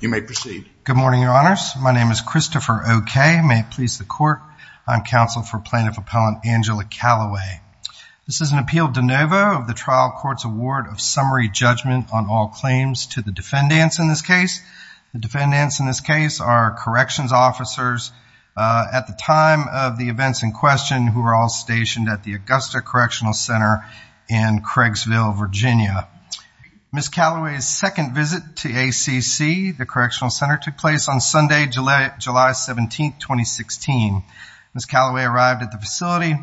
You may proceed. Good morning, Your Honors. My name is Christopher Okeh. May it please the Court. I'm counsel for Plaintiff Appellant Angela Calloway. This is an appeal de novo of the trial court's award of summary judgment on all claims to the defendants in this case. The defendants in this case are corrections officers at the time of the events in question who are all stationed at the court. The second visit to ACC, the Correctional Center, took place on Sunday, July 17, 2016. Ms. Calloway arrived at the facility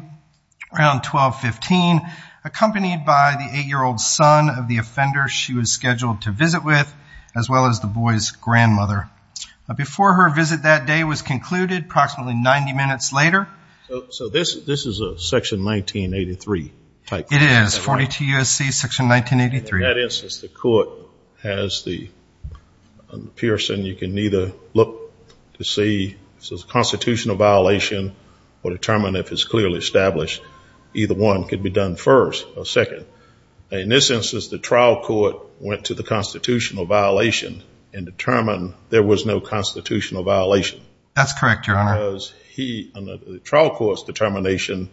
around 12.15, accompanied by the eight-year-old son of the offender she was scheduled to visit with, as well as the boy's grandmother. Before her visit that day was concluded approximately 90 minutes later. So this is a section 1983 type thing? It is. 42 U.S.C. section 1983. In that instance, the court has the Pearson. You can either look to see if it's a constitutional violation or determine if it's clearly established. Either one could be done first or second. In this instance, the trial court went to the constitutional violation and determined there was no constitutional violation. That's correct, Your Honor. Because the trial court's determination,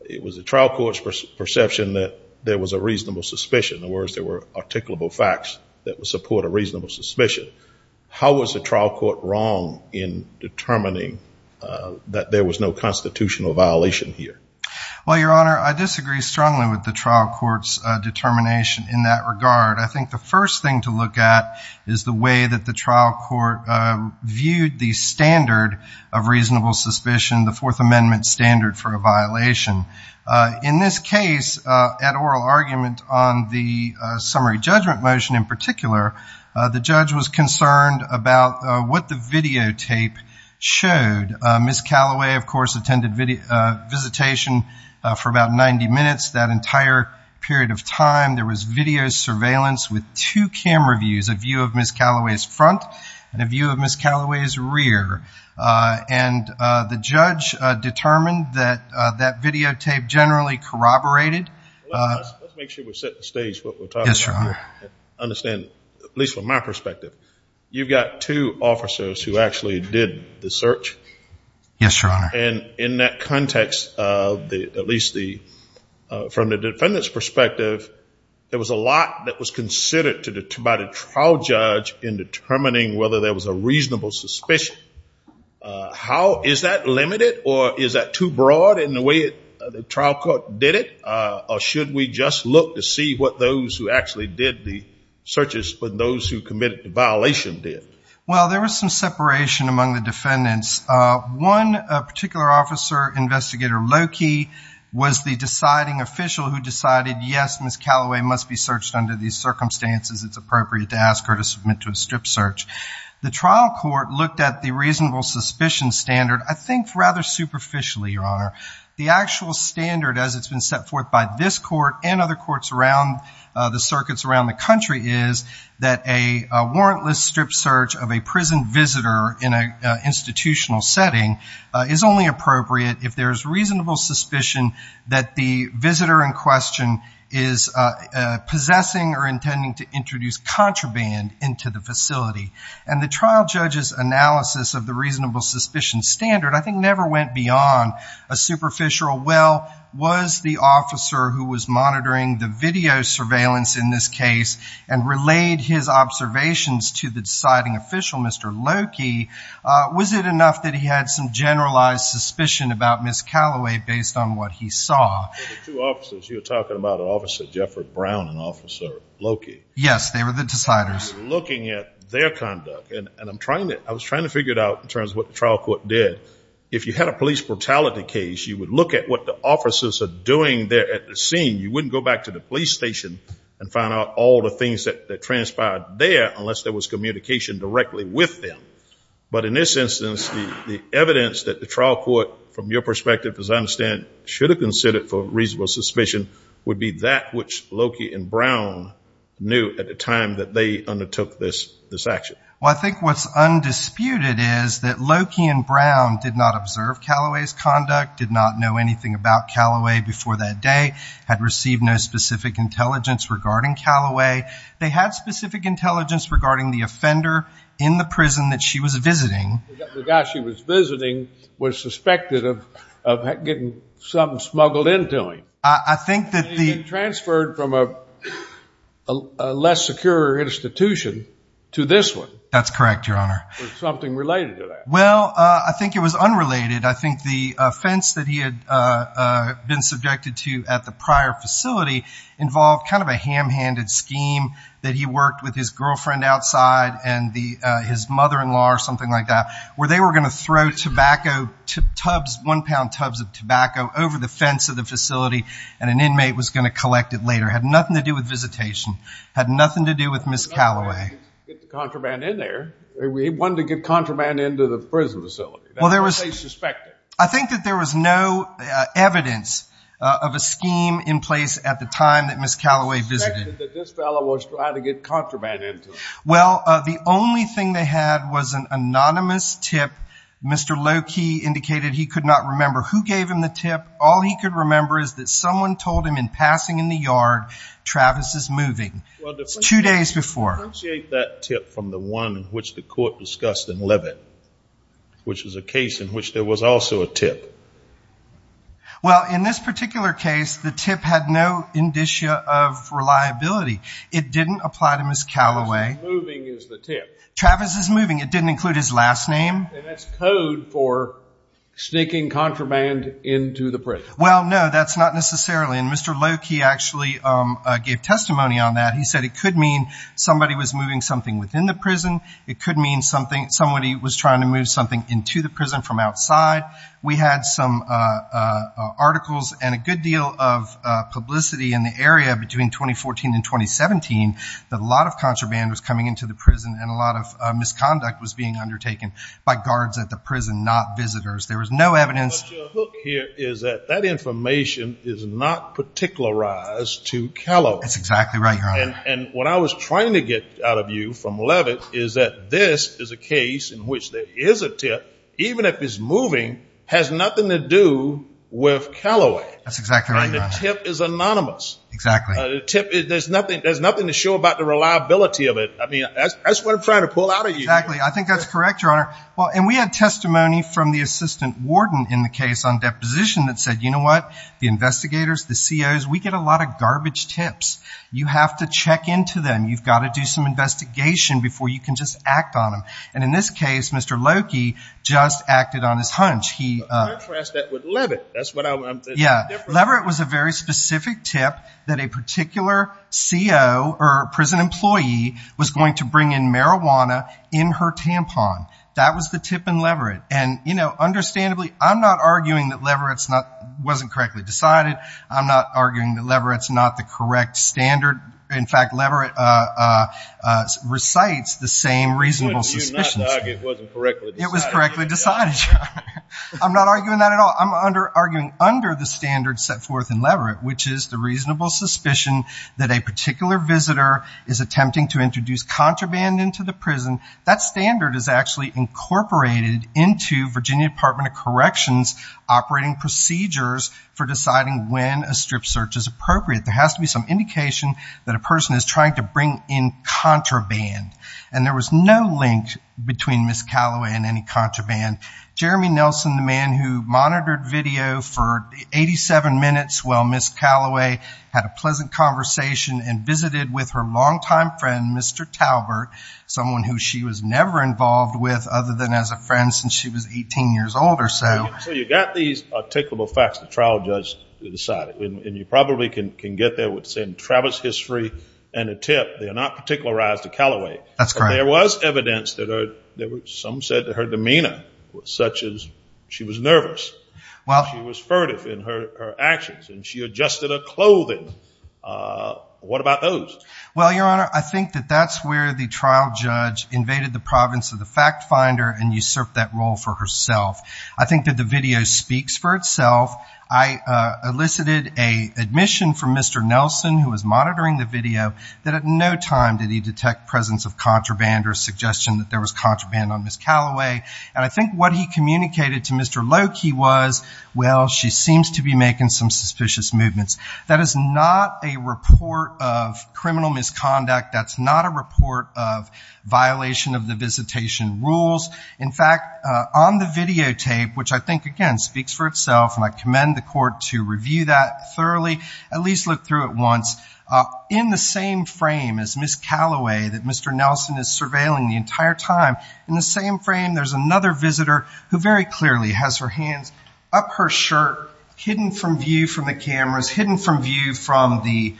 it was the trial court's perception that there was a reasonable suspicion. In other words, there were articulable facts that would support a reasonable suspicion. How was the trial court wrong in determining that there was no constitutional violation here? Well, Your Honor, I disagree strongly with the trial court's determination in that regard. I think the first thing to look at is the way that the trial court viewed the standard of reasonable suspicion, the Fourth Amendment standard for a violation. In this case, at oral argument on the summary judgment motion in particular, the judge was concerned about what the videotape showed. Miss Callaway, of course, attended visitation for about 90 minutes. That entire period of time, there was video surveillance with two camera views, a view of Miss Callaway's front and a view of Miss Callaway's rear. The judge determined that that videotape generally corroborated... Let's make sure we set the stage for what we're talking about here. Yes, Your Honor. Understand, at least from my perspective, you've got two officers who actually did the search. Yes, Your Honor. In that context, at least from the defendant's perspective, there was a lot that was in determining whether there was a reasonable suspicion. Is that limited or is that too broad in the way the trial court did it? Or should we just look to see what those who actually did the searches, but those who committed the violation did? Well, there was some separation among the defendants. One particular officer, Investigator Loki, was the deciding official who decided, yes, Miss Callaway must be searched under these circumstances. It's appropriate to submit to a strip search. The trial court looked at the reasonable suspicion standard, I think rather superficially, Your Honor. The actual standard, as it's been set forth by this court and other courts around the circuits around the country, is that a warrantless strip search of a prison visitor in a institutional setting is only appropriate if there is reasonable suspicion that the visitor in question is possessing or intending to introduce contraband into the facility. And the trial judge's analysis of the reasonable suspicion standard, I think, never went beyond a superficial, well, was the officer who was monitoring the video surveillance in this case and relayed his observations to the deciding official, Mr. Loki, was it enough that he had some generalized suspicion about Miss Callaway based on what he saw? Well, the two officers you're talking about, Officer Jeffrey Brown and Officer Loki. Yes, they were the deciders. Looking at their conduct, and I'm trying to, I was trying to figure it out in terms of what the trial court did. If you had a police brutality case, you would look at what the officers are doing there at the scene. You wouldn't go back to the police station and find out all the things that transpired there unless there was communication directly with them. But in this instance, the evidence that the trial court, from your perspective, as I understand, should have considered for reasonable suspicion would be that which Loki and Brown knew at the time that they undertook this this action. Well, I think what's undisputed is that Loki and Brown did not observe Callaway's conduct, did not know anything about Callaway before that day, had received no specific intelligence regarding Callaway. They had specific intelligence regarding the offender in the prison that she was visiting. The guy she was visiting was suspected of getting something smuggled into him. I think that the transferred from a less secure institution to this one. That's correct, Your Honor. Something related to that. Well, I think it was unrelated. I think the offense that he had been subjected to at the prior facility involved kind of a ham-handed scheme that he worked with his girlfriend outside and his mother-in-law or something like that, where they were going to throw tobacco, one-pound tubs of tobacco over the fence of the facility, and an inmate was going to have nothing to do with visitation, had nothing to do with Ms. Callaway. We wanted to get contraband into the prison facility, that's what they suspected. I think that there was no evidence of a scheme in place at the time that Ms. Callaway visited. Well, the only thing they had was an anonymous tip. Mr. Loki indicated he could not remember who gave him the tip. All he could remember is that someone told him in passing in the yard, Travis is moving. It's two days before. Appreciate that tip from the one which the court discussed in Leavitt, which was a case in which there was also a tip. Well, in this particular case, the tip had no indicia of reliability. It didn't apply to Ms. Callaway. Travis is moving. It didn't include his last name. That's code for sneaking contraband into the prison. Well, no, that's not necessarily, and Mr. Loki actually gave testimony on that. He said it could mean somebody was moving something within the prison. It could mean somebody was trying to move something into the prison from outside. We had some articles and a good deal of publicity in the area between 2014 and 2017 that a lot of contraband was coming into the prison and a lot of misconduct was being undertaken by guards at the prison, not that information is not particularized to Callaway. That's exactly right, Your Honor. And what I was trying to get out of you from Leavitt is that this is a case in which there is a tip, even if it's moving, has nothing to do with Callaway. That's exactly right, Your Honor. The tip is anonymous. Exactly. The tip, there's nothing to show about the reliability of it. I mean, that's what I'm trying to pull out of you. Exactly. I think that's correct, Your Honor. Well, and we had testimony from the deposition that said, you know what, the investigators, the COs, we get a lot of garbage tips. You have to check into them. You've got to do some investigation before you can just act on them. And in this case, Mr. Loki just acted on his hunch. In contrast with Leavitt, that's what I'm saying. Yeah. Leavitt was a very specific tip that a particular CO or prison employee was going to bring in marijuana in her tampon. That was the tip in Leavitt. And, you know, understandably, I'm not arguing that Leavitt wasn't correctly decided. I'm not arguing that Leavitt's not the correct standard. In fact, Leavitt recites the same reasonable suspicions. It was correctly decided. I'm not arguing that at all. I'm arguing under the standard set forth in Leavitt, which is the reasonable suspicion that a particular visitor is attempting to introduce contraband into the prison. That standard is actually incorporated into Virginia Department of Operating Procedures for deciding when a strip search is appropriate. There has to be some indication that a person is trying to bring in contraband. And there was no link between Ms. Calloway and any contraband. Jeremy Nelson, the man who monitored video for 87 minutes while Ms. Calloway had a pleasant conversation and visited with her longtime friend, Mr. Talbert, someone who she was never involved with other than as a friend since she was 18 years old or so. So you got these articulable facts the trial judge decided. And you probably can get there with saying Travis history and a tip. They are not particularized to Calloway. That's correct. There was evidence that some said that her demeanor was such as she was nervous. Well, she was furtive in her actions and she adjusted her clothing. What about those? Well, Your Honor, I think that that's where the trial judge invaded the province of the fact-finder and usurped that role for herself. I think that the video speaks for itself. I elicited a admission from Mr. Nelson, who was monitoring the video, that at no time did he detect presence of contraband or suggestion that there was contraband on Ms. Calloway. And I think what he communicated to Mr. Loki was, well, she seems to be making some suspicious movements. That is not a report of criminal misconduct. That's not a report of violation of the visitation rules. In fact, on the videotape, which I think again speaks for itself and I commend the court to review that thoroughly, at least look through it once, in the same frame as Ms. Calloway that Mr. Nelson is surveilling the entire time, in the same frame there's another visitor who very clearly has her hands up her shirt, hidden from view from the cameras, hidden from view from the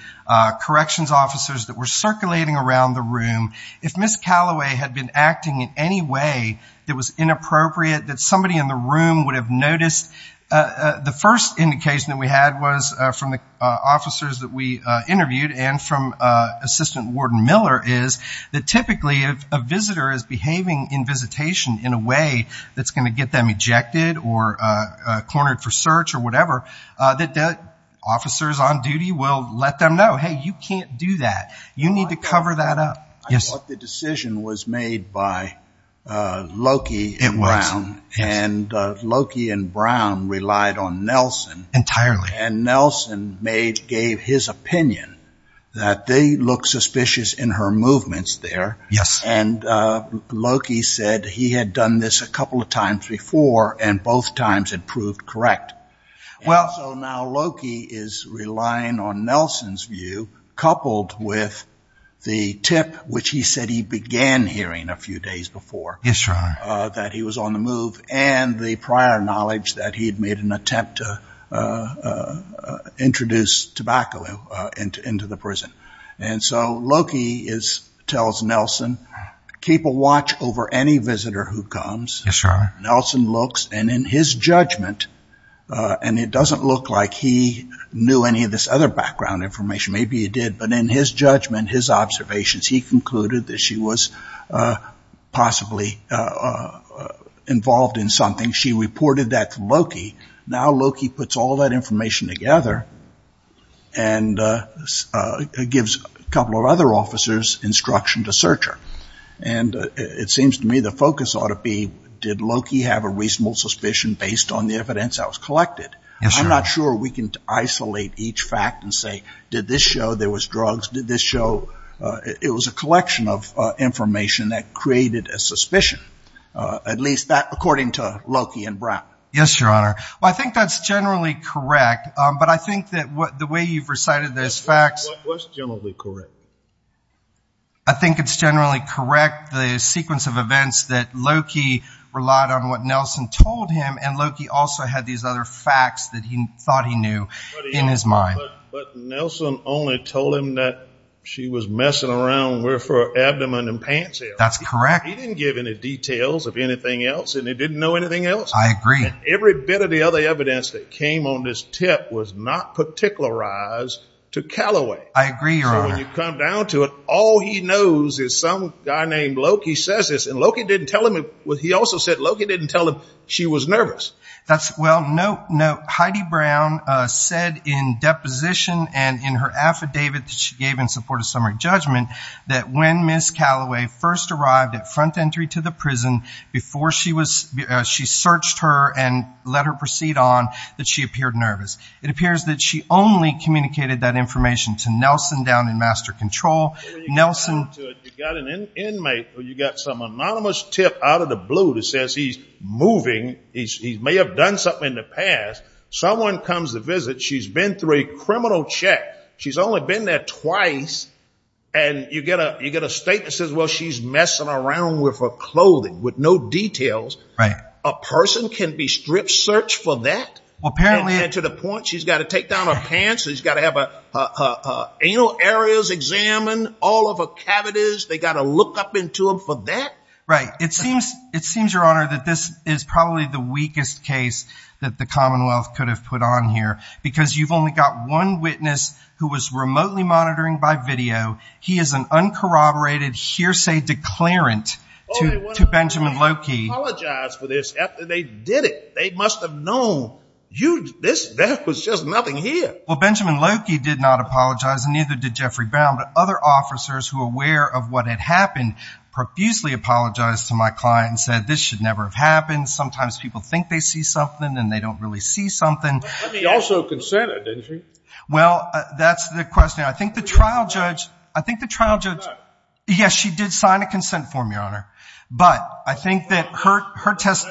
corrections officers that were circulating around the room. If Ms. Calloway had been acting in any way that was inappropriate, that somebody in the room would have noticed, the first indication that we had was from the officers that we interviewed and from Assistant Warden Miller is that typically if a visitor is behaving in visitation in a way that's going to get them ejected or cornered for search or whatever, that the officers on duty will let them know, hey, you can't do that. You can't do that. It was. And Loki and Brown relied on Nelson. Entirely. And Nelson made, gave his opinion that they look suspicious in her movements there. Yes. And Loki said he had done this a couple of times before and both times it proved correct. Well. And so now Loki is relying on Nelson's view coupled with the tip which he said he began hearing a few days before. Yes, Your Honor. That he was on the move and the prior knowledge that he had made an attempt to introduce tobacco into the prison. And so Loki tells Nelson, keep a watch over any visitor who comes. Yes, Your Honor. Nelson looks and in his judgment, and it doesn't look like he knew any of this other background information, maybe he did, but in his judgment, his judgment, he involved in something. She reported that to Loki. Now Loki puts all that information together and gives a couple of other officers instruction to search her. And it seems to me the focus ought to be, did Loki have a reasonable suspicion based on the evidence that was collected? Yes, Your Honor. I'm not sure we can isolate each fact and say, did this show there was drugs? Did this show, it was a collection of information that created a suspicion, at least that according to Loki and Brown. Yes, Your Honor. Well, I think that's generally correct. But I think that what the way you've recited those facts. What's generally correct? I think it's generally correct, the sequence of events that Loki relied on what Nelson told him and Loki also had these other facts that he thought he knew in his mind. But Nelson only told him that she was messing around with her abdomen and pants here. That's correct. He didn't give any details of anything else and he didn't know anything else. I agree. And every bit of the other evidence that came on this tip was not particularized to Calloway. I agree, Your Honor. So when you come down to it, all he knows is some guy named Loki says this and Loki didn't tell him, he also said Loki didn't tell him she was nervous. That's well, no, no, Heidi Brown said in deposition and in her affidavit that she gave in support of summary judgment that when Ms. Calloway first arrived at front entry to the prison before she was, she searched her and let her proceed on that she appeared nervous. It appears that she only communicated that information to Nelson down in master control. Nelson You got an inmate or you got some anonymous tip out of the blue that says he's moving, he may have done something in the past. Someone comes to visit. She's been through a criminal check. She's only been there twice. And you get a, you get a state that says, well, she's messing around with her clothing with no details, right? A person can be stripped search for that apparently to the point she's got to take down her pants. She's got to have a, uh, uh, uh, anal areas examined all of her cavities. They got to look up into them for that, right? It seems, it seems, Your Honor, that this is probably the weakest case that the who was remotely monitoring by video. He is an uncorroborated hearsay declarant to, to Benjamin Loki. Apologize for this after they did it. They must have known you, this, that was just nothing here. Well, Benjamin Loki did not apologize and neither did Jeffrey Brown, but other officers who are aware of what had happened, profusely apologized to my client and said, this should never have happened. Sometimes people think they see something and they don't really see something. He also consented, didn't he? Well, that's the question. I think the trial judge, I think the trial judge, yes, she did sign a consent form, Your Honor, but I think that her, her test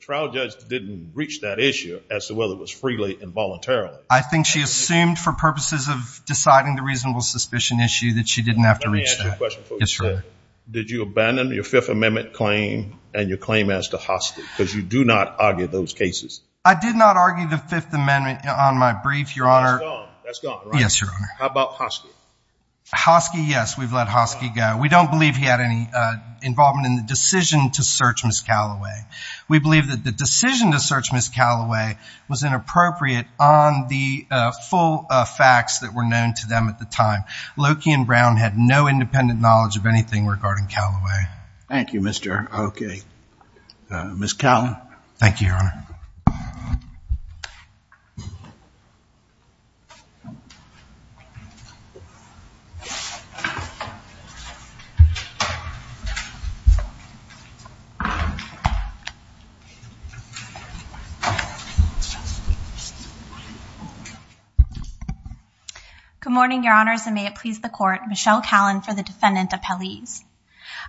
trial judge didn't reach that issue as to whether it was freely involuntarily. I think she assumed for purposes of deciding the reasonable suspicion issue that she didn't have to reach that. Did you abandon your fifth amendment claim and your claim as to hostage? Cause you do not argue those cases. I did not argue the fifth amendment on my brief. That's gone, right? Yes, Your Honor. How about Hoskey? Hoskey, yes. We've let Hoskey go. We don't believe he had any involvement in the decision to search Ms. Calloway. We believe that the decision to search Ms. Calloway was inappropriate on the full facts that were known to them at the time. Loki and Brown had no independent knowledge of anything regarding Calloway. Thank you, Mr. Okay. Ms. Calloway. Thank you, Your Honor. Okay. Good morning, Your Honors. And may it please the court, Michelle Callan for the defendant appellees.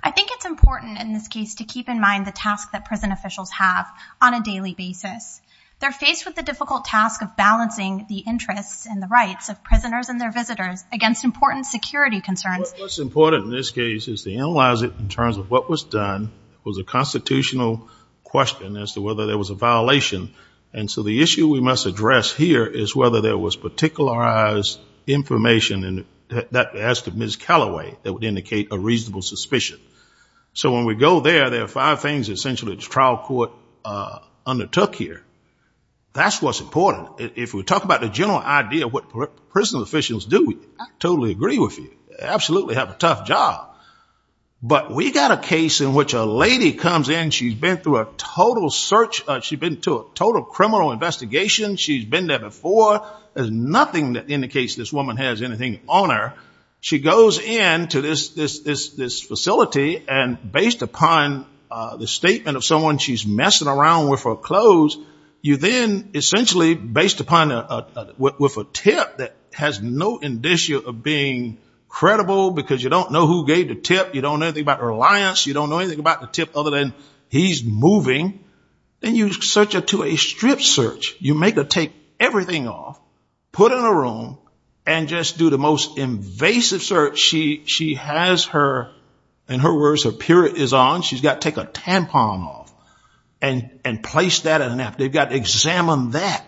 I think it's important in this case to keep in mind the task that prison officials have on a daily basis. They're faced with the difficult task of balancing the interests and the rights of prisoners and their visitors against important security concerns. What's important in this case is to analyze it in terms of what was done was a constitutional question as to whether there was a violation. And so the issue we must address here is whether there was particularized information and that as to Ms. Calloway that would indicate a reasonable suspicion. So when we go there, there are five things essentially the trial court, uh, that's what's important. If we talk about the general idea of what prison officials do, I totally agree with you, absolutely have a tough job, but we got a case in which a lady comes in, she's been through a total search. She'd been to a total criminal investigation. She's been there before. There's nothing that indicates this woman has anything on her. She goes into this, this, this, this facility and based upon, uh, the messing around with her clothes, you then essentially based upon, uh, uh, with a tip that has no indicia of being credible because you don't know who gave the tip. You don't know anything about her alliance. You don't know anything about the tip other than he's moving. Then you search her to a strip search. You make her take everything off, put her in a room and just do the most invasive search. She, she has her, in her words, her period is on. She's got to take a tampon off. And, and place that in an app. They've got examined that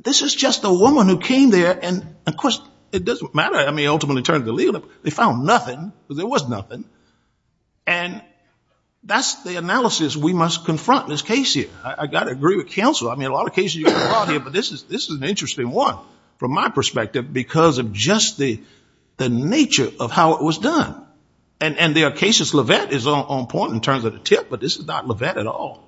this is just the woman who came there. And of course it doesn't matter. I mean, ultimately in terms of the legal, they found nothing, but there was nothing. And that's the analysis we must confront in this case here. I got to agree with counsel. I mean, a lot of cases, but this is, this is an interesting one from my perspective, because of just the, the nature of how it was done and, and there are cases where this Levet is on point in terms of the tip, but this is not Levet at all.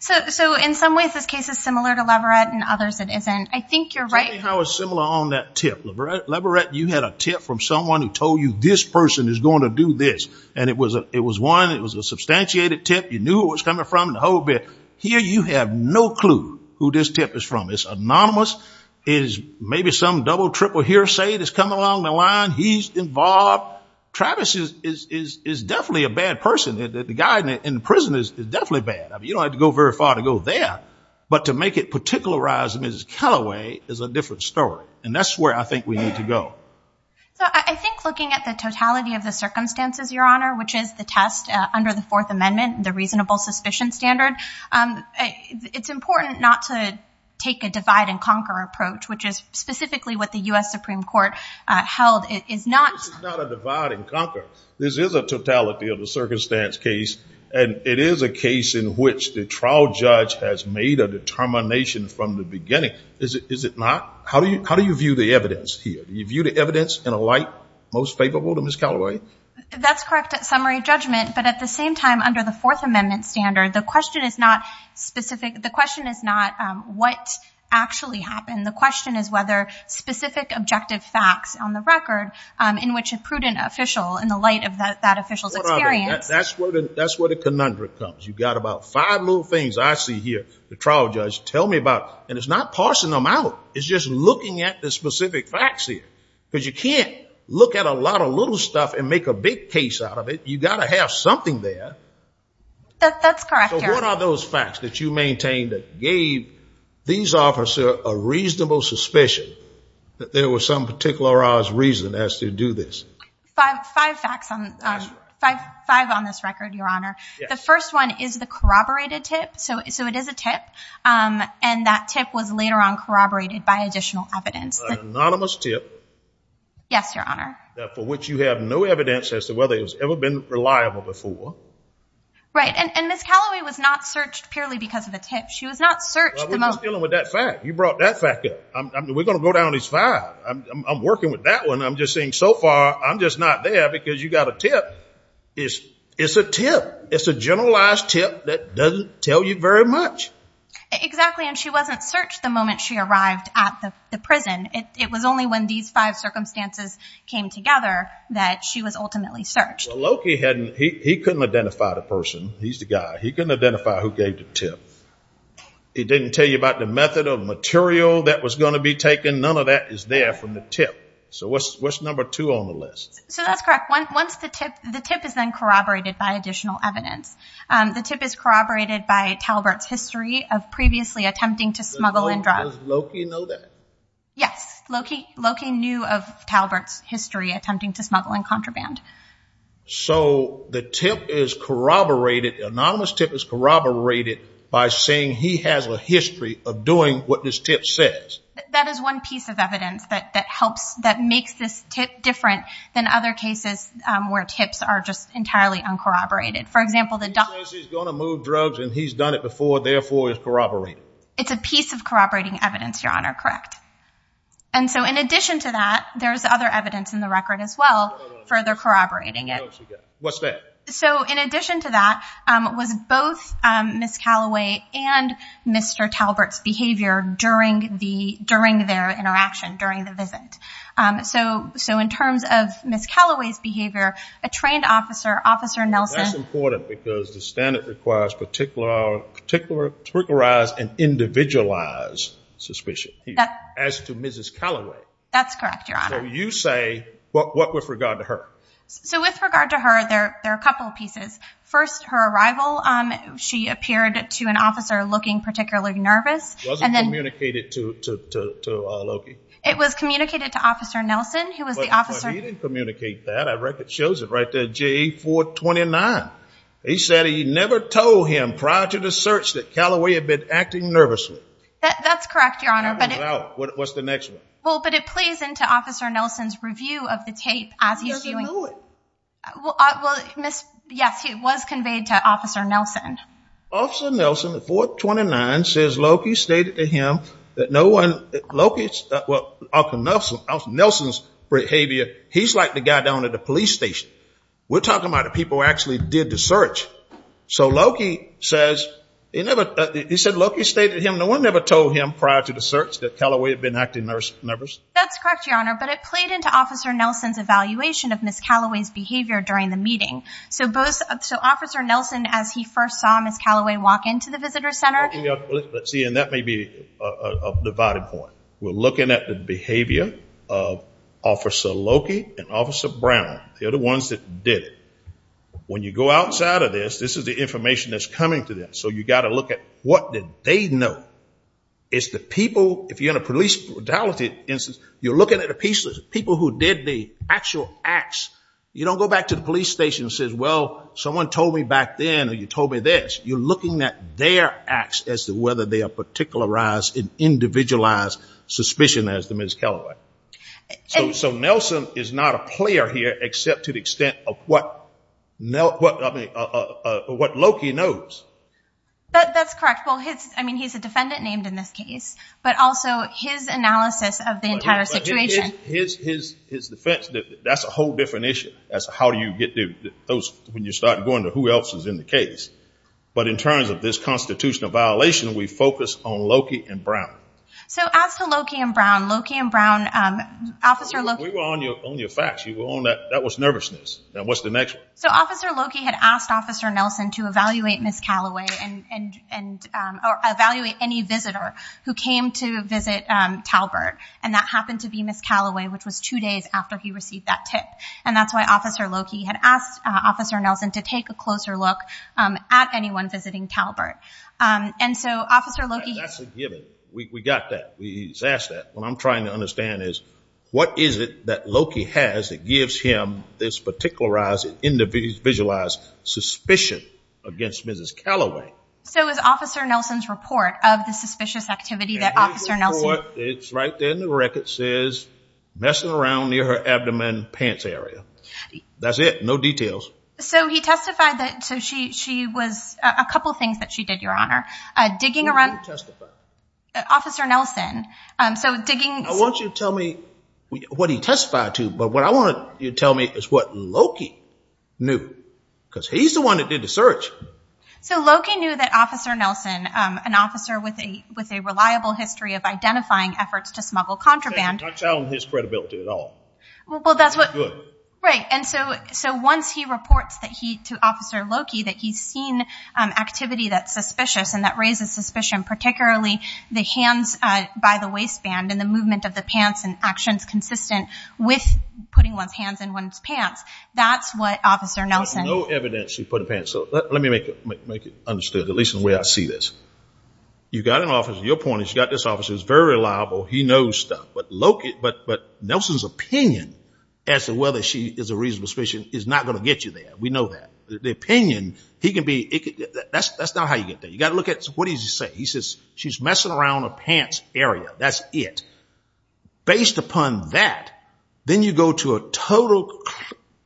So, so in some ways this case is similar to Leverett and others it isn't. I think you're right. I was similar on that tip. Leverett, you had a tip from someone who told you this person is going to do this. And it was a, it was one, it was a substantiated tip. You knew what was coming from the whole bit here. You have no clue who this tip is from. It's anonymous is maybe some double, triple hearsay. It has come along the line. He's involved. Travis is, is, is definitely a bad person that the guy in the prison is definitely bad. I mean, you don't have to go very far to go there, but to make it particularized, Ms. Callaway is a different story. And that's where I think we need to go. So I think looking at the totality of the circumstances, your honor, which is the test under the fourth amendment, the reasonable suspicion standard it's important not to take a divide and conquer approach, which is specifically what the is not a divide and conquer. This is a totality of the circumstance case. And it is a case in which the trial judge has made a determination from the beginning. Is it, is it not? How do you, how do you view the evidence here? Do you view the evidence in a light most favorable to Ms. Callaway? That's correct at summary judgment, but at the same time, under the fourth amendment standard, the question is not specific. The question is not what actually happened. And the question is whether specific objective facts on the record, um, in which a prudent official in the light of that, that official's experience. That's where the, that's where the conundrum comes. You've got about five little things I see here. The trial judge tell me about, and it's not parsing them out. It's just looking at the specific facts here because you can't look at a lot of little stuff and make a big case out of it. You got to have something there. That's correct. So what are those facts that you maintained that gave these officer a reasonable suspicion that there was some particularized reason as to do this? Five, five facts on, um, five, five on this record, Your Honor. The first one is the corroborated tip. So, so it is a tip. Um, and that tip was later on corroborated by additional evidence. Anonymous tip. Yes, Your Honor. That for which you have no evidence as to whether it was ever been reliable before. Right. And, and Ms. Calloway was not searched purely because of a tip. She was not searched. Well, we're just dealing with that fact. You brought that fact up. I'm going to go down these five. I'm working with that one. I'm just seeing so far, I'm just not there because you got a tip. It's a tip. It's a generalized tip that doesn't tell you very much. Exactly. And she wasn't searched the moment she arrived at the prison. It was only when these five circumstances came together that she was ultimately searched. Well, Loki hadn't, he, he couldn't identify the person. He's the guy. He couldn't identify who gave the tip. He didn't tell you about the method of material that was going to be taken. None of that is there from the tip. So what's, what's number two on the list? So that's correct. One, once the tip, the tip is then corroborated by additional evidence. Um, the tip is corroborated by Talbert's history of previously attempting to smuggle in drugs. Does Loki know that? Yes. Loki, Loki knew of Talbert's history attempting to smuggle in contraband. So the tip is corroborated. Anonymous tip is corroborated by saying he has a history of doing what this tip says. That is one piece of evidence that, that helps, that makes this tip different than other cases, um, where tips are just entirely uncorroborated. For example, the doctor says he's going to move drugs and he's done it before. Therefore it's corroborating. It's a piece of corroborating evidence, Your Honor. Correct. And so in addition to that, there's other evidence in the record as well, further corroborating it. What's that? So in addition to that, um, it was both, um, Ms. Callaway and Mr. Talbert's behavior during the, during their interaction during the visit. Um, so, so in terms of Ms. Callaway's behavior, a trained officer, officer Nelson. That's important because the standard requires particular, particular, That's correct, Your Honor. You say, what, what, with regard to her? So with regard to her, there, there are a couple of pieces. First, her arrival, um, she appeared to an officer looking particularly nervous. It wasn't communicated to, to, to, to, uh, Loki. It was communicated to officer Nelson, who was the officer. He didn't communicate that. I reckon it shows it right there. JA 429. He said he never told him prior to the search that Callaway had been acting nervously. That's correct, Your Honor. What's the next one? Well, but it plays into officer Nelson's review of the tape as he's doing it. Well, uh, well, Ms. Yes, he was conveyed to officer Nelson. Officer Nelson at 429 says Loki stated to him that no one, Loki's, uh, well, Nelson's, Nelson's behavior. He's like the guy down at the police station. We're talking about the people who actually did the search. So Loki says, he never, he said, Loki stated him. No one ever told him prior to the search that Callaway had been acting nervous. That's correct, Your Honor. But it played into officer Nelson's evaluation of Ms. Callaway's behavior during the meeting. So both, so officer Nelson, as he first saw Ms. Callaway walk into the visitor center. Let's see. And that may be a divided point. We're looking at the behavior of officer Loki and officer Brown. They're the ones that did it. When you go outside of this, this is the information that's coming to them. So you got to look at what did they know is the people. If you're in a police brutality instance, you're looking at a piece of people who did the actual acts. You don't go back to the police station and says, well, someone told me back then, or you told me this, you're looking at their acts as to whether they are particularized and individualized suspicion as to Ms. Callaway. So, so Nelson is not a player here, except to the extent of what what Loki knows. That's correct. Well, his, I mean, he's a defendant named in this case, but also his analysis of the entire situation. His, his, his defense, that's a whole different issue. That's how do you get to those when you start going to who else is in the case. But in terms of this constitutional violation, we focus on Loki and Brown. So as to Loki and Brown, Loki and Brown, um, officer Loki. We were on your, on your facts. You were on that. That was nervousness. Now what's the next one? So officer Loki had asked officer Nelson to evaluate Ms. Callaway and, and, um, or evaluate any visitor who came to visit, um, Talbert. And that happened to be Ms. Callaway, which was two days after he received that tip. And that's why officer Loki had asked officer Nelson to take a closer look, um, at anyone visiting Talbert. Um, and so officer Loki. We, we got that. We asked that. What I'm trying to understand is what is it that Loki has that gives him this particularized individualized suspicion against Mrs. Callaway? So it was officer Nelson's report of the suspicious activity that officer Nelson. It's right there in the record says messing around near her abdomen pants area. That's it. No details. So he testified that she, she was a couple of things that she did, your honor, uh, digging around. Officer Nelson. Um, so digging. I want you to tell me what he testified to, but what I want you to tell me is what Loki knew because he's the one that did the search. So Loki knew that officer Nelson, um, an officer with a, with a reliable history of identifying efforts to smuggle contraband. His credibility at all. Well, that's what, right. And so, so once he reports that he to officer Loki, that he's seen, um, activity that's suspicious and that raises suspicion, particularly the hands by the waistband and the movement of the pants and actions consistent with putting one's hands in one's pants. That's what officer Nelson. No evidence he put a pencil. Let me make it, make it understood. At least in the way I see this, you got an office, your point is, you got this officer is very reliable. He knows stuff, but Loki, but, but Nelson's opinion as to whether she is a reasonable suspicion is not going to get you there. We know that the opinion he can be, that's, that's not how you get there. You got to look at what he's saying. He says, she's messing around a pants area. That's it. Based upon that, then you go to a total,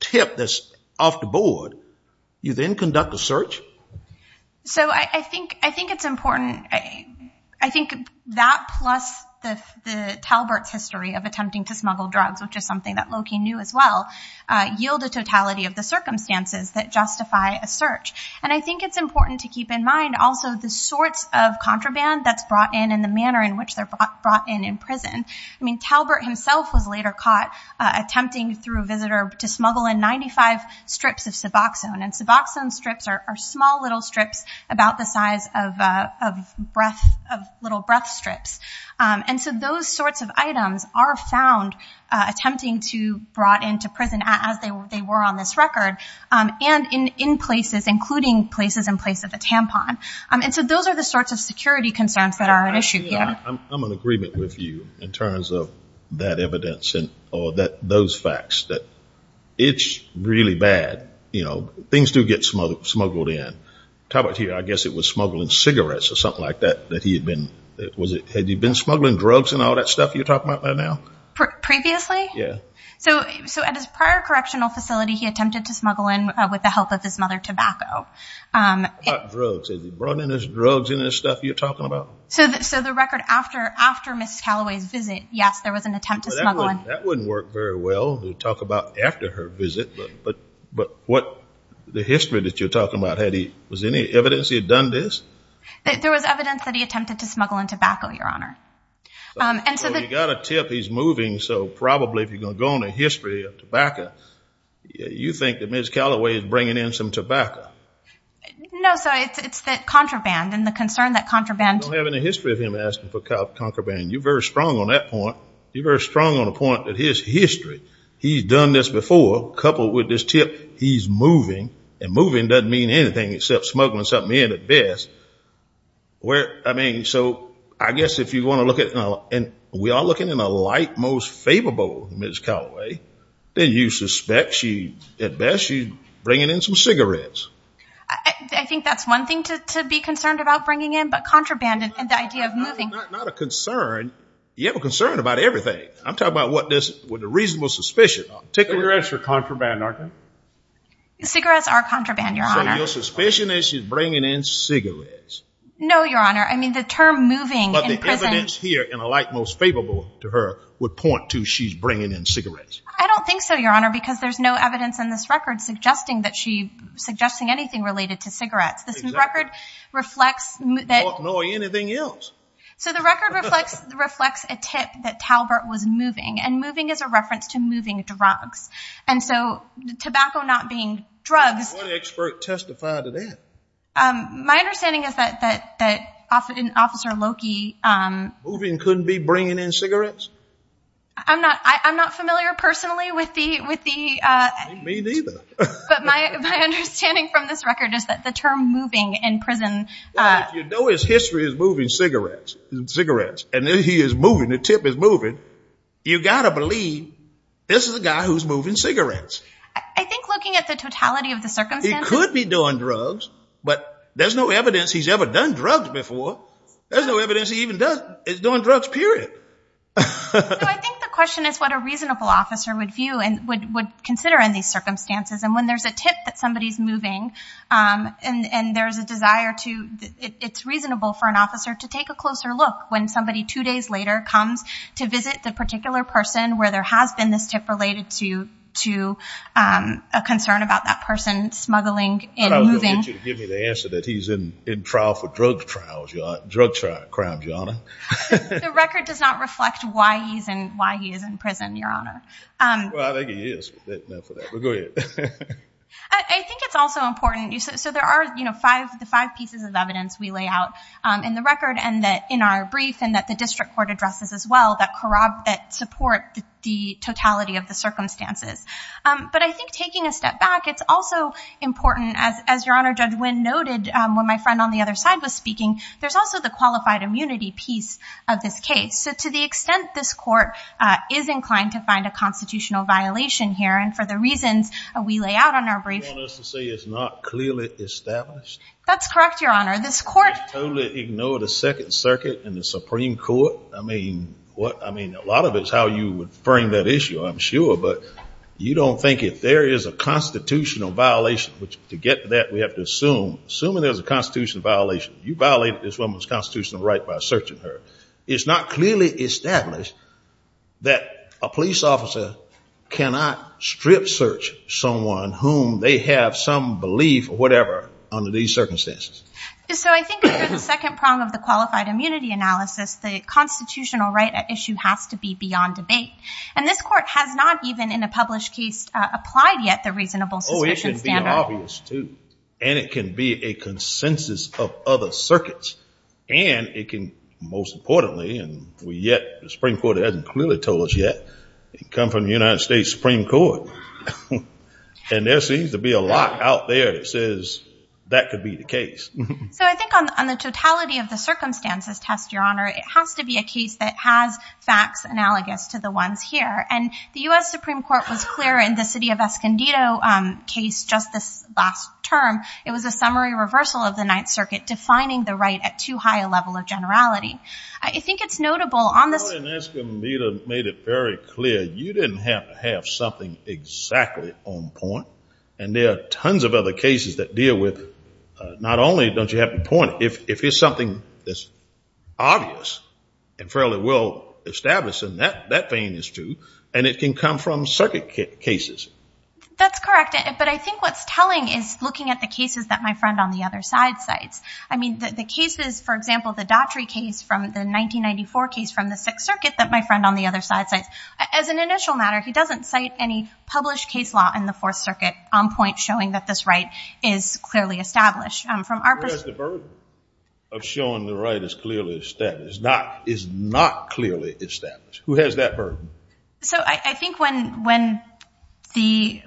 tip this off the board. You then conduct a search. So I think, I think it's important. I think that plus the, the Talbert's history of attempting to smuggle drugs, which is something that Loki knew as well, uh, yield a totality of the circumstances that justify a search. And I think it's important to keep in mind also the sorts of contraband that's brought in and the manner in which they're brought in in prison. I mean, Talbert himself was later caught attempting through visitor to smuggle in 95 strips of Suboxone and Suboxone strips are small little strips about the size of, uh, of breath of little breath strips. Um, and so those sorts of items are found, uh, attempting to brought into prison as they were, they were on this record, um, and in, in places, including places in place of a tampon. Um, and so those are the sorts of security concerns that are an issue. I'm in agreement with you in terms of that evidence and, or that, those facts that it's really bad. You know, things do get smuggled, smuggled in. Talbert here, I guess it was smuggling cigarettes or something like that, that he had been, was it, had you been smuggling drugs and all that stuff you're talking about right now? Previously? Yeah. So, so at his prior correctional facility, he attempted to smuggle in with the help of his mother, tobacco. Um, drugs, drugs in his stuff you're talking about. So the, so the record after, after Ms. Calloway's visit, yes, there was an attempt to smuggle in. That wouldn't work very well to talk about after her visit, but, but, but what the history that you're talking about, had he, was there any evidence he had done this? There was evidence that he attempted to smuggle in tobacco, Your Honor. Um, and so that. You got a tip he's moving. So probably if you're going to go on a history of tobacco, you think that Ms. Calloway is bringing in some tobacco. No, so it's, it's the contraband and the concern that contraband. I don't have any history of him asking for contraband. You're very strong on that point. You're very strong on the point that his history, he's done this before, coupled with this tip, he's moving and moving. Doesn't mean anything except smuggling something in at best. Where, I mean, so I guess if you want to look at it and we are looking in a light, most favorable Ms. Calloway, then you suspect she at best she's bringing in some cigarettes. I think that's one thing to be concerned about bringing in, but contraband and the idea of moving. Not a concern. You have a concern about everything. I'm talking about what this would a reasonable suspicion. Cigarettes are contraband, aren't they? Cigarettes are contraband, Your Honor. So your suspicion is she's bringing in cigarettes. No, Your Honor. I mean the term moving in prison. But the evidence here in a light most favorable to her would point to she's bringing in cigarettes. I don't think so, Your Honor, because there's no evidence in this record suggesting that she, suggesting anything related to cigarettes. This record reflects that. Nor anything else. So the record reflects a tip that Talbert was moving and moving as a reference to moving drugs. And so tobacco not being drugs. What expert testified to that? My understanding is that, that, that officer Loki, um. Moving couldn't be bringing in cigarettes. I'm not, I'm not familiar personally with the, with the, uh. Me neither. But my, my understanding from this record is that the term moving in prison. You know, his history is moving cigarettes and cigarettes and then he is moving. The tip is moving. You got to believe this is a guy who's moving cigarettes. I think looking at the totality of the circumstances. He could be doing drugs, but there's no evidence he's ever done drugs before. There's no evidence he even does. He's doing drugs, period. I think the question is what a reasonable officer would view and would, would consider in these circumstances. And when there's a tip that somebody's moving, um, and, and there's a desire to, it's reasonable for an officer to take a closer look when somebody two days later comes to visit the particular person where there has been this tip related to, to, um, a concern about that person smuggling and moving. I was going to get you to give me the answer that he's in, in trial for drug trials, drug crime, Your Honor. The record does not reflect why he's in, why he is in prison, Your Honor. Well, I think it is, but go ahead. I think it's also important. So there are, you know, five, the five pieces of evidence we lay out, um, in the record and that in our brief, and that the district court addresses as well, that corroborate that support the totality of the circumstances. Um, but I think taking a step back, it's also important as, as Your Honor, Judge Wynn noted, um, when my friend on the other side was speaking, there's also the qualified immunity piece of this case. So to the extent this court, uh, is inclined to find a constitutional violation here. And for the reasons we lay out on our brief. You want us to say it's not clearly established? That's correct, Your Honor. This court. Totally ignored the second circuit and the Supreme court. I mean, what? I mean, a lot of it's how you would frame that issue, I'm sure. But you don't think if there is a constitutional violation, which to get to that, we have to assume, assuming there's a constitutional violation, you violated this woman's constitutional right by searching her. It's not clearly established that a police officer cannot strip search someone whom they have some belief or whatever under these circumstances. So I think the second prong of the qualified immunity analysis, the constitutional right at issue has to be beyond debate. And this court has not even in a published case applied yet the reasonable suspicion. And it can be a consensus of other circuits and it can most importantly, and we yet the Supreme court hasn't clearly told us yet, it come from the United States Supreme court. And there seems to be a lot out there that says that could be the case. So I think on the totality of the circumstances test, Your Honor, it has to be a case that has facts analogous to the ones here. And the U S Supreme court was clear in the city of Escondido case, just this last term, it was a summary reversal of the ninth circuit defining the right at too high a generality. I think it's notable on this. The court in Escondido made it very clear. You didn't have to have something exactly on point. And there are tons of other cases that deal with not only don't you have to point if, if there's something that's obvious and fairly well established in that, that vein is true. And it can come from circuit cases. That's correct. But I think what's telling is looking at the cases that my friend on the other side cites. I mean the, the cases, for example, the doctorate case from the 1994 case from the sixth circuit that my friend on the other side says as an initial matter, he doesn't cite any published case law in the fourth circuit on point showing that this right is clearly established from our perspective of showing the right is clearly established, not is not clearly established who has that burden. So I think when, when the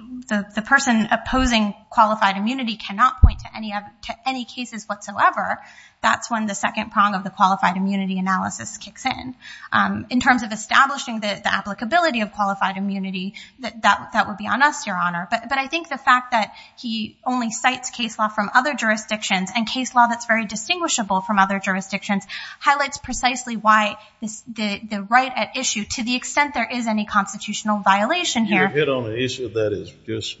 person opposing qualified immunity cannot point to any of to any cases whatsoever, that's when the second prong of the qualified immunity analysis kicks in in terms of establishing the applicability of qualified immunity that that would be on us, your honor. But I think the fact that he only cites case law from other jurisdictions and case law that's very distinguishable from other jurisdictions highlights precisely why this, the, the right at issue to the extent, there is any constitutional violation here. You're hit on an issue that is just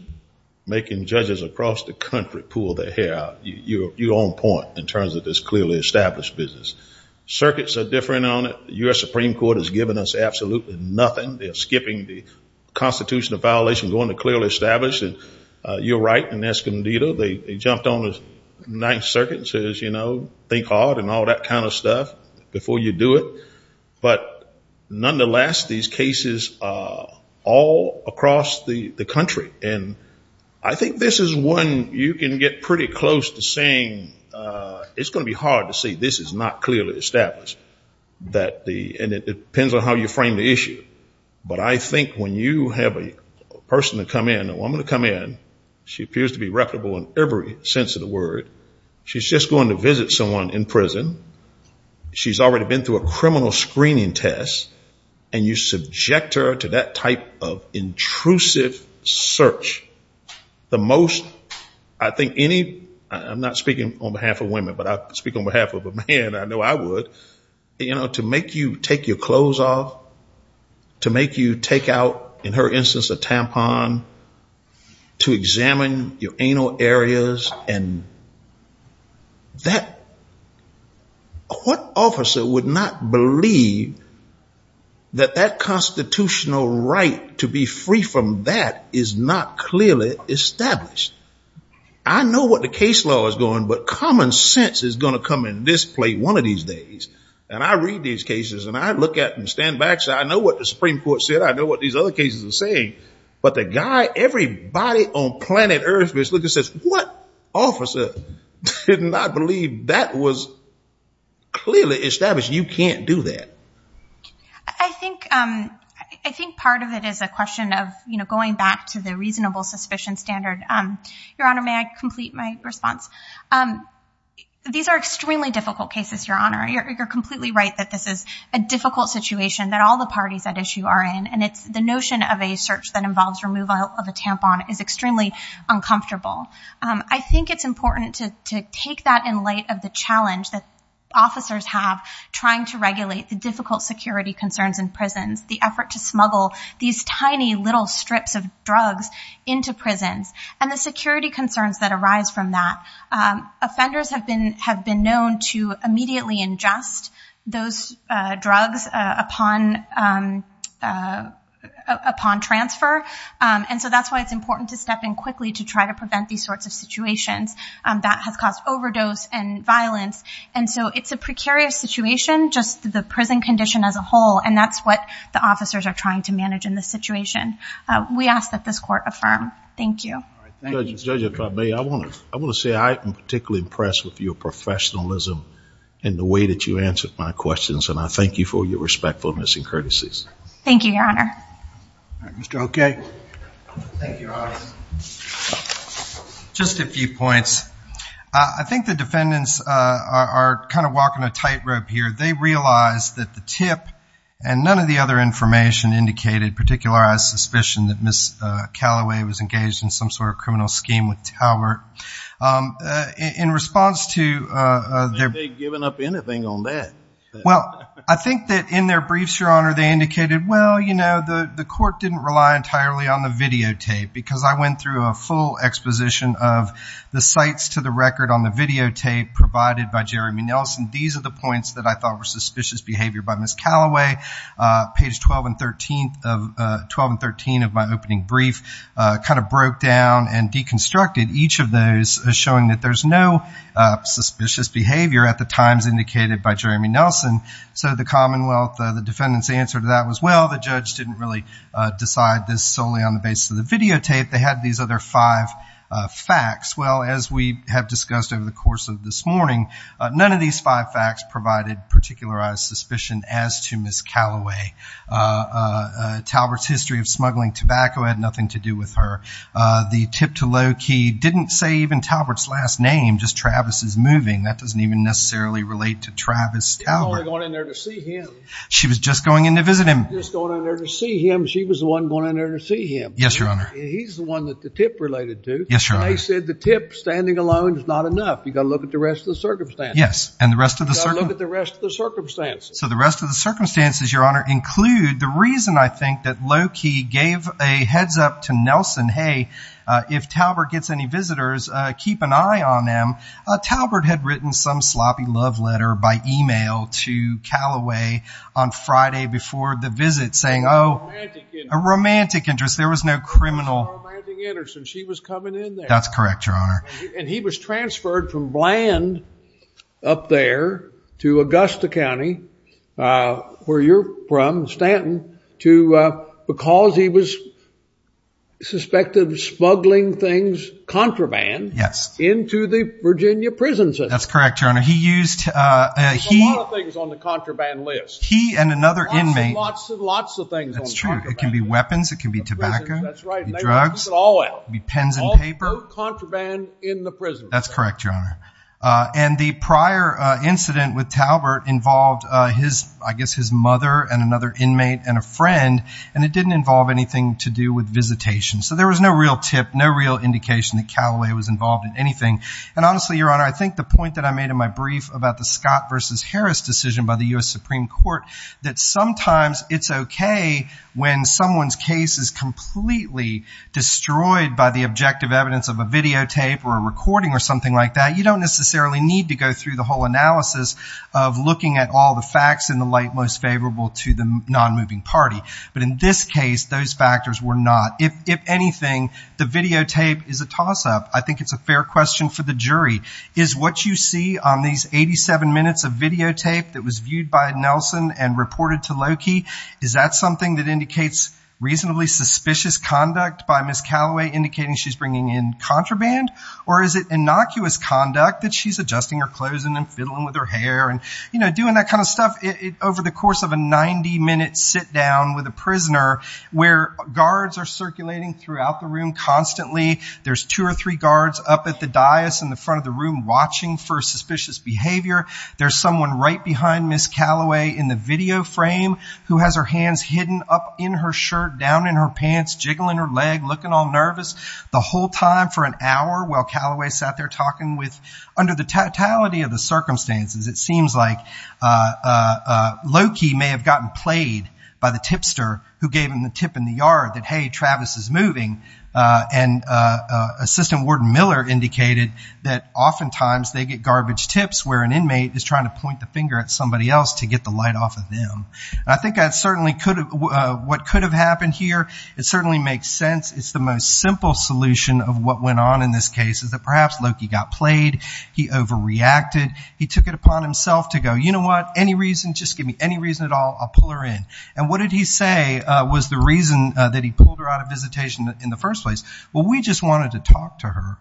making judges across the country pull their you, your own point in terms of this clearly established business circuits are different on it. U.S. Supreme court has given us absolutely nothing. They're skipping the constitutional violation, going to clearly establish that you're right in Escondido. They jumped on the ninth circuit and says, you know, think hard and all that kind of stuff before you do it. But nonetheless, these cases are all across the country. And I think this is one you can get pretty close to saying it's going to be hard to say this is not clearly established that the, and it depends on how you frame the issue. But I think when you have a person to come in, a woman to come in, she appears to be reputable in every sense of the word. She's just going to visit someone in prison. She's already been through a criminal screening test and you subject her to that type of intrusive search. The most, I think any, I'm not speaking on behalf of women, but I speak on behalf of a man. I know I would, you know, to make you take your clothes off, to make you take out in her instance, a tampon to examine your anal areas. And that what officer would not believe that that constitutional right to be free from that is not clearly established. I know what the case law is going, but common sense is going to come in this play one of these days. And I read these cases and I look at and stand back. So I know what the Supreme court said. I know what these other cases are saying, but the guy, everybody on planet earth is looking, says, what officer did not believe that was clearly established? You can't do that. I think I think part of it is a question of, you know, going back to the reasonable suspicion standard. Your honor, may I complete my response? These are extremely difficult cases, your honor. You're completely right that this is a difficult situation that all the parties at issue are in. And it's the notion of a search that involves removal of a tampon is extremely uncomfortable. I think it's important to, to take that in light of the challenge that officers have trying to regulate the difficult security concerns in prisons, the effort to smuggle these tiny little strips of drugs into prisons and the security concerns that arise from that. Offenders have been, have been known to immediately ingest those drugs upon upon transfer. And so that's why it's important to step in quickly to try to prevent these sorts of situations that has caused overdose and violence. And so it's a precarious situation, just the prison condition as a whole. And that's what the officers are trying to manage in this situation. We ask that this court affirm. Thank you. I want to say I am particularly impressed with your professionalism and the way that you answered my questions. And I thank you for your respectfulness and courtesies. Thank you, your honor. Mr. Okay. Just a few points. I think the defendants are kind of walking a tightrope here. They realized that the tip and none of the other information indicated particular, I suspicion that Ms. Calloway was engaged in some sort of criminal scheme with Talbert in response to, they'd given up anything on that. Well, I think that in their briefs, your honor, they indicated, well, you know, the court didn't rely entirely on the videotape because I went through a full exposition of the sites to the record on the videotape provided by Jeremy Nelson. These are the points that I thought were suspicious behavior by Ms. Calloway page 12 and 13 of 12 and 13 of my opening brief kind of broke down and deconstructed each of those showing that there's no suspicious behavior at the times indicated by Jeremy Nelson. So the Commonwealth, the defendant's answer to that was, well, the judge didn't really decide this solely on the basis of the videotape. They had these other five facts. Well, as we have discussed over the course of this morning, none of these five facts provided particularized suspicion as to Ms. Calloway Talbert's history of smuggling tobacco had nothing to do with her. The tip to low key. Didn't say even Talbert's last name, just Travis is moving. That doesn't even necessarily relate to Travis Talbert going in there to see him. She was just going in to visit him, just going in there to see him. She was the one going in there to see him. Yes, Your Honor. He's the one that the tip related to. Yes, Your Honor. He said the tip standing alone is not enough. You got to look at the rest of the circumstance. Yes. And the rest of the rest of the circumstances. So the rest of the circumstances, Your Honor, include the reason I think that low key gave a heads up to Nelson. Hey, if Talbert gets any visitors, keep an eye on them. Talbert had written some sloppy love letter by email to Calloway on Friday before the visit saying, oh, a romantic interest. There was no criminal. She was coming in there. That's correct, Your Honor. And he was transferred from Bland up there to Augusta County, where you're from, Stanton, to because he was suspected of smuggling things, contraband into the Virginia prison system. That's correct, Your Honor. He used a lot of things on the contraband list. He and another inmate. Lots and lots of things. That's true. It can be weapons. It can be tobacco. That's right. The drugs all be pens and paper contraband in the prison. That's correct, Your Honor. And the prior incident with Talbert involved his I guess his mother and another inmate and a friend. And it didn't involve anything to do with visitation. So there was no real tip, no real indication that Calloway was involved in anything. And honestly, Your Honor, I think the point that I made in my brief about the Scott versus Harris decision by the U.S. Supreme Court, that sometimes it's OK when someone's case is completely destroyed by the objective evidence of a videotape or a recording or something like that. You don't necessarily need to go through the whole analysis of looking at all the facts in the light most favorable to the non-moving party. But in this case, those factors were not. If anything, the videotape is a toss up. I think it's a fair question for the jury. Is what you see on these 87 minutes of videotape that was viewed by Nelson and reported to Loki, is that something that indicates reasonably suspicious conduct by Ms. Calloway, indicating she's bringing in contraband? Or is it innocuous conduct that she's adjusting her clothes and fiddling with her hair and, you know, doing that kind of stuff over the course of a 90 minute sit down with a prisoner where guards are circulating throughout the room constantly? There's two or three guards up at the dais in the front of the room watching for suspicious behavior. There's someone right behind Ms. Calloway in the video frame who has her hands hidden up in her shirt, down in her pants, jiggling her leg, looking all nervous the whole time for an hour while Calloway sat there talking with under the totality of the circumstances, it seems like Loki may have gotten played by the tipster who gave him the tip in the yard that, hey, Travis is moving. And Assistant Warden Miller indicated that oftentimes they get garbage tips where an inmate is trying to point the finger at somebody else to get the light off of them. I think that certainly could what could have happened here. It certainly makes sense. It's the most simple solution of what went on in this case is that perhaps Loki got played. He overreacted. He took it upon himself to go, you know what, any reason, just give me any reason at all, I'll pull her in. And what did he say was the reason that he pulled her out of visitation in the first place? Well, we just wanted to talk to her.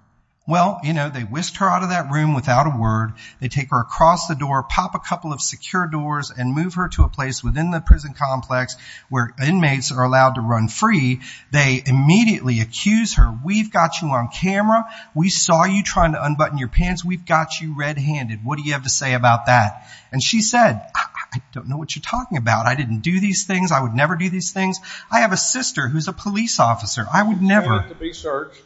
Well, you know, they whisked her out of that room without a word. They take her across the door, pop a couple of secure doors and move her to a place within the prison complex where inmates are allowed to run free. They immediately accuse her. We've got you on camera. We saw you trying to unbutton your pants. We've got you red handed. What do you have to say about that? And she said, I don't know what you're talking about. I didn't do these things. I would never do these things. I have a sister who's a police officer. I would never be searched.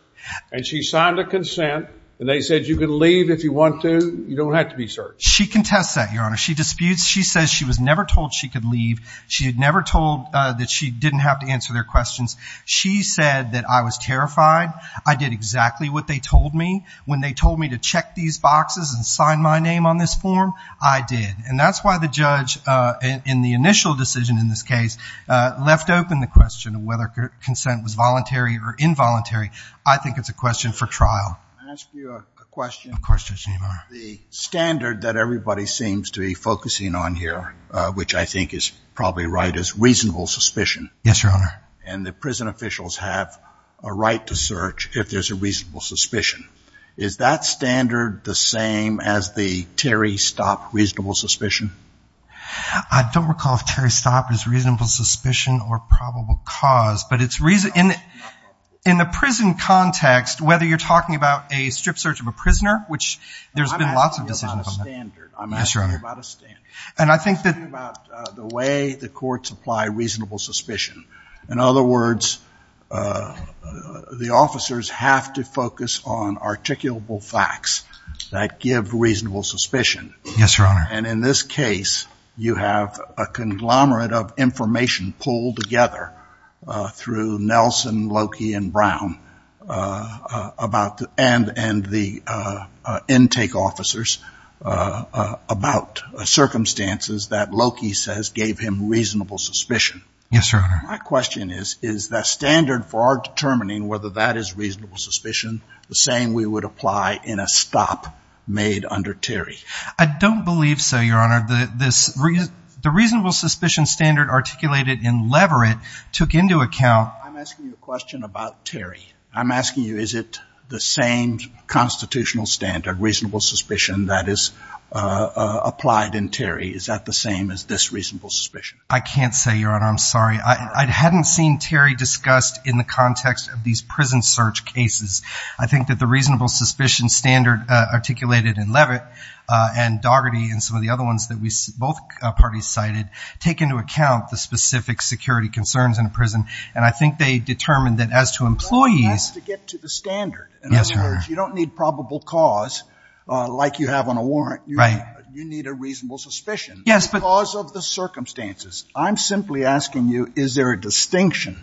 And she signed a consent and they said, you can leave if you want to. You don't have to be searched. She contests that your honor. She disputes. She says she was never told she could leave. She had never told that she didn't have to answer their questions. She said that I was terrified. I did exactly what they told me when they told me to check these boxes and sign my name on this form. I did. And that's why the judge in the initial decision in this case left open the question of whether consent was voluntary or involuntary. I think it's a question for trial. I ask you a question. Questions anymore. The standard that everybody seems to be focusing on here, which I think is probably right, is reasonable suspicion. Yes, your honor. And the prison officials have a right to search if there's a reasonable suspicion. Is that standard the same as the Terry Stopp reasonable suspicion? I don't recall if Terry Stopp is reasonable suspicion or probable cause, but it's reason in the prison context, whether you're talking about a strip search of a prisoner, which there's been lots of decisions on that. I'm asking about a standard. And I think that the way the courts apply reasonable suspicion, in other words, the officers have to focus on articulable facts that give reasonable suspicion. Yes, your honor. And in this case, you have a conglomerate of information pulled together through Nelson, Loki and Brown about the end and the intake officers about circumstances that Loki says gave him reasonable suspicion. Yes, your honor. My question is, is that standard for determining whether that is reasonable suspicion the same we would apply in a stop made under Terry? I don't believe so, your honor. The reasonable suspicion standard articulated in Leverett took into account. I'm asking you a question about Terry. I'm asking you, is it the same constitutional standard reasonable suspicion that is applied in Terry? Is that the same as this reasonable suspicion? I can't say, your honor. I'm sorry. I hadn't seen Terry discussed in the context of these prison search cases. I think that the reasonable suspicion standard articulated in Leverett and Daugherty and some of the other ones that we both parties cited take into account the specific security concerns in a prison. And I think they determined that as to employees to get to the standard, in other words, you don't need probable cause like you have on a warrant. You need a reasonable suspicion. Yes, but also the circumstances I'm simply asking you, is there a distinction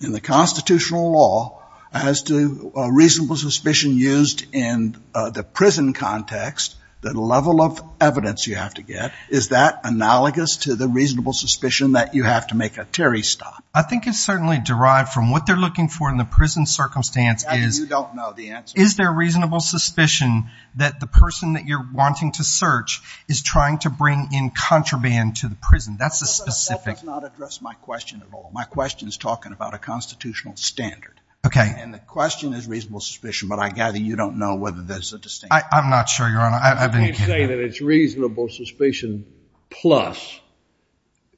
in the constitutional law as to a reasonable suspicion used in the prison context that level of evidence you have to get? Is that analogous to the reasonable suspicion that you have to make a Terry stop? I think it's certainly derived from what they're looking for in the prison circumstance. Is there a reasonable suspicion that the person that you're wanting to search is trying to bring in contraband to the prison? That's a specific. That does not address my question at all. My question is talking about a constitutional standard. Okay. And the question is reasonable suspicion, but I gather you don't know whether there's a distinction. I'm not sure, Your Honor. I can't say that it's reasonable suspicion plus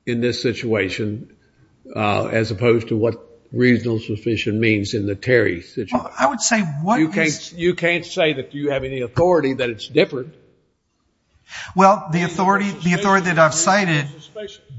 in this situation, uh, as opposed to what reasonable suspicion means in the Terry situation. I would say what you can't, you can't say that you have any authority that it's different. Well, the authority, the authority that I've cited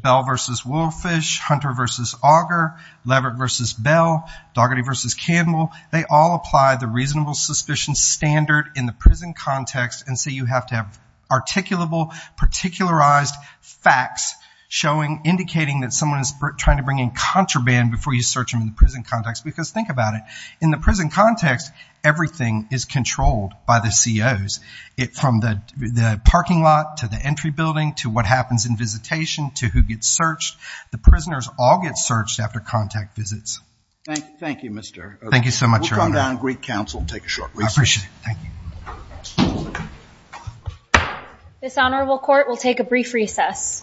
Bell versus Wolfish Hunter versus Auger Leverett versus Bell, Dougherty versus Campbell. They all apply the reasonable suspicion standard in the prison context. And so you have to have articulable particularized facts showing, indicating that someone is trying to bring in contraband before you search them in the prison context, because think about it in the prison context, everything is controlled by the COs. It from the parking lot to the entry building to what happens in visitation to who gets searched. The prisoners all get searched after contact visits. Thank you. Thank you, Mr. Thank you so much. We'll come down to Greek Council and take a short recess. This honorable court will take a brief recess.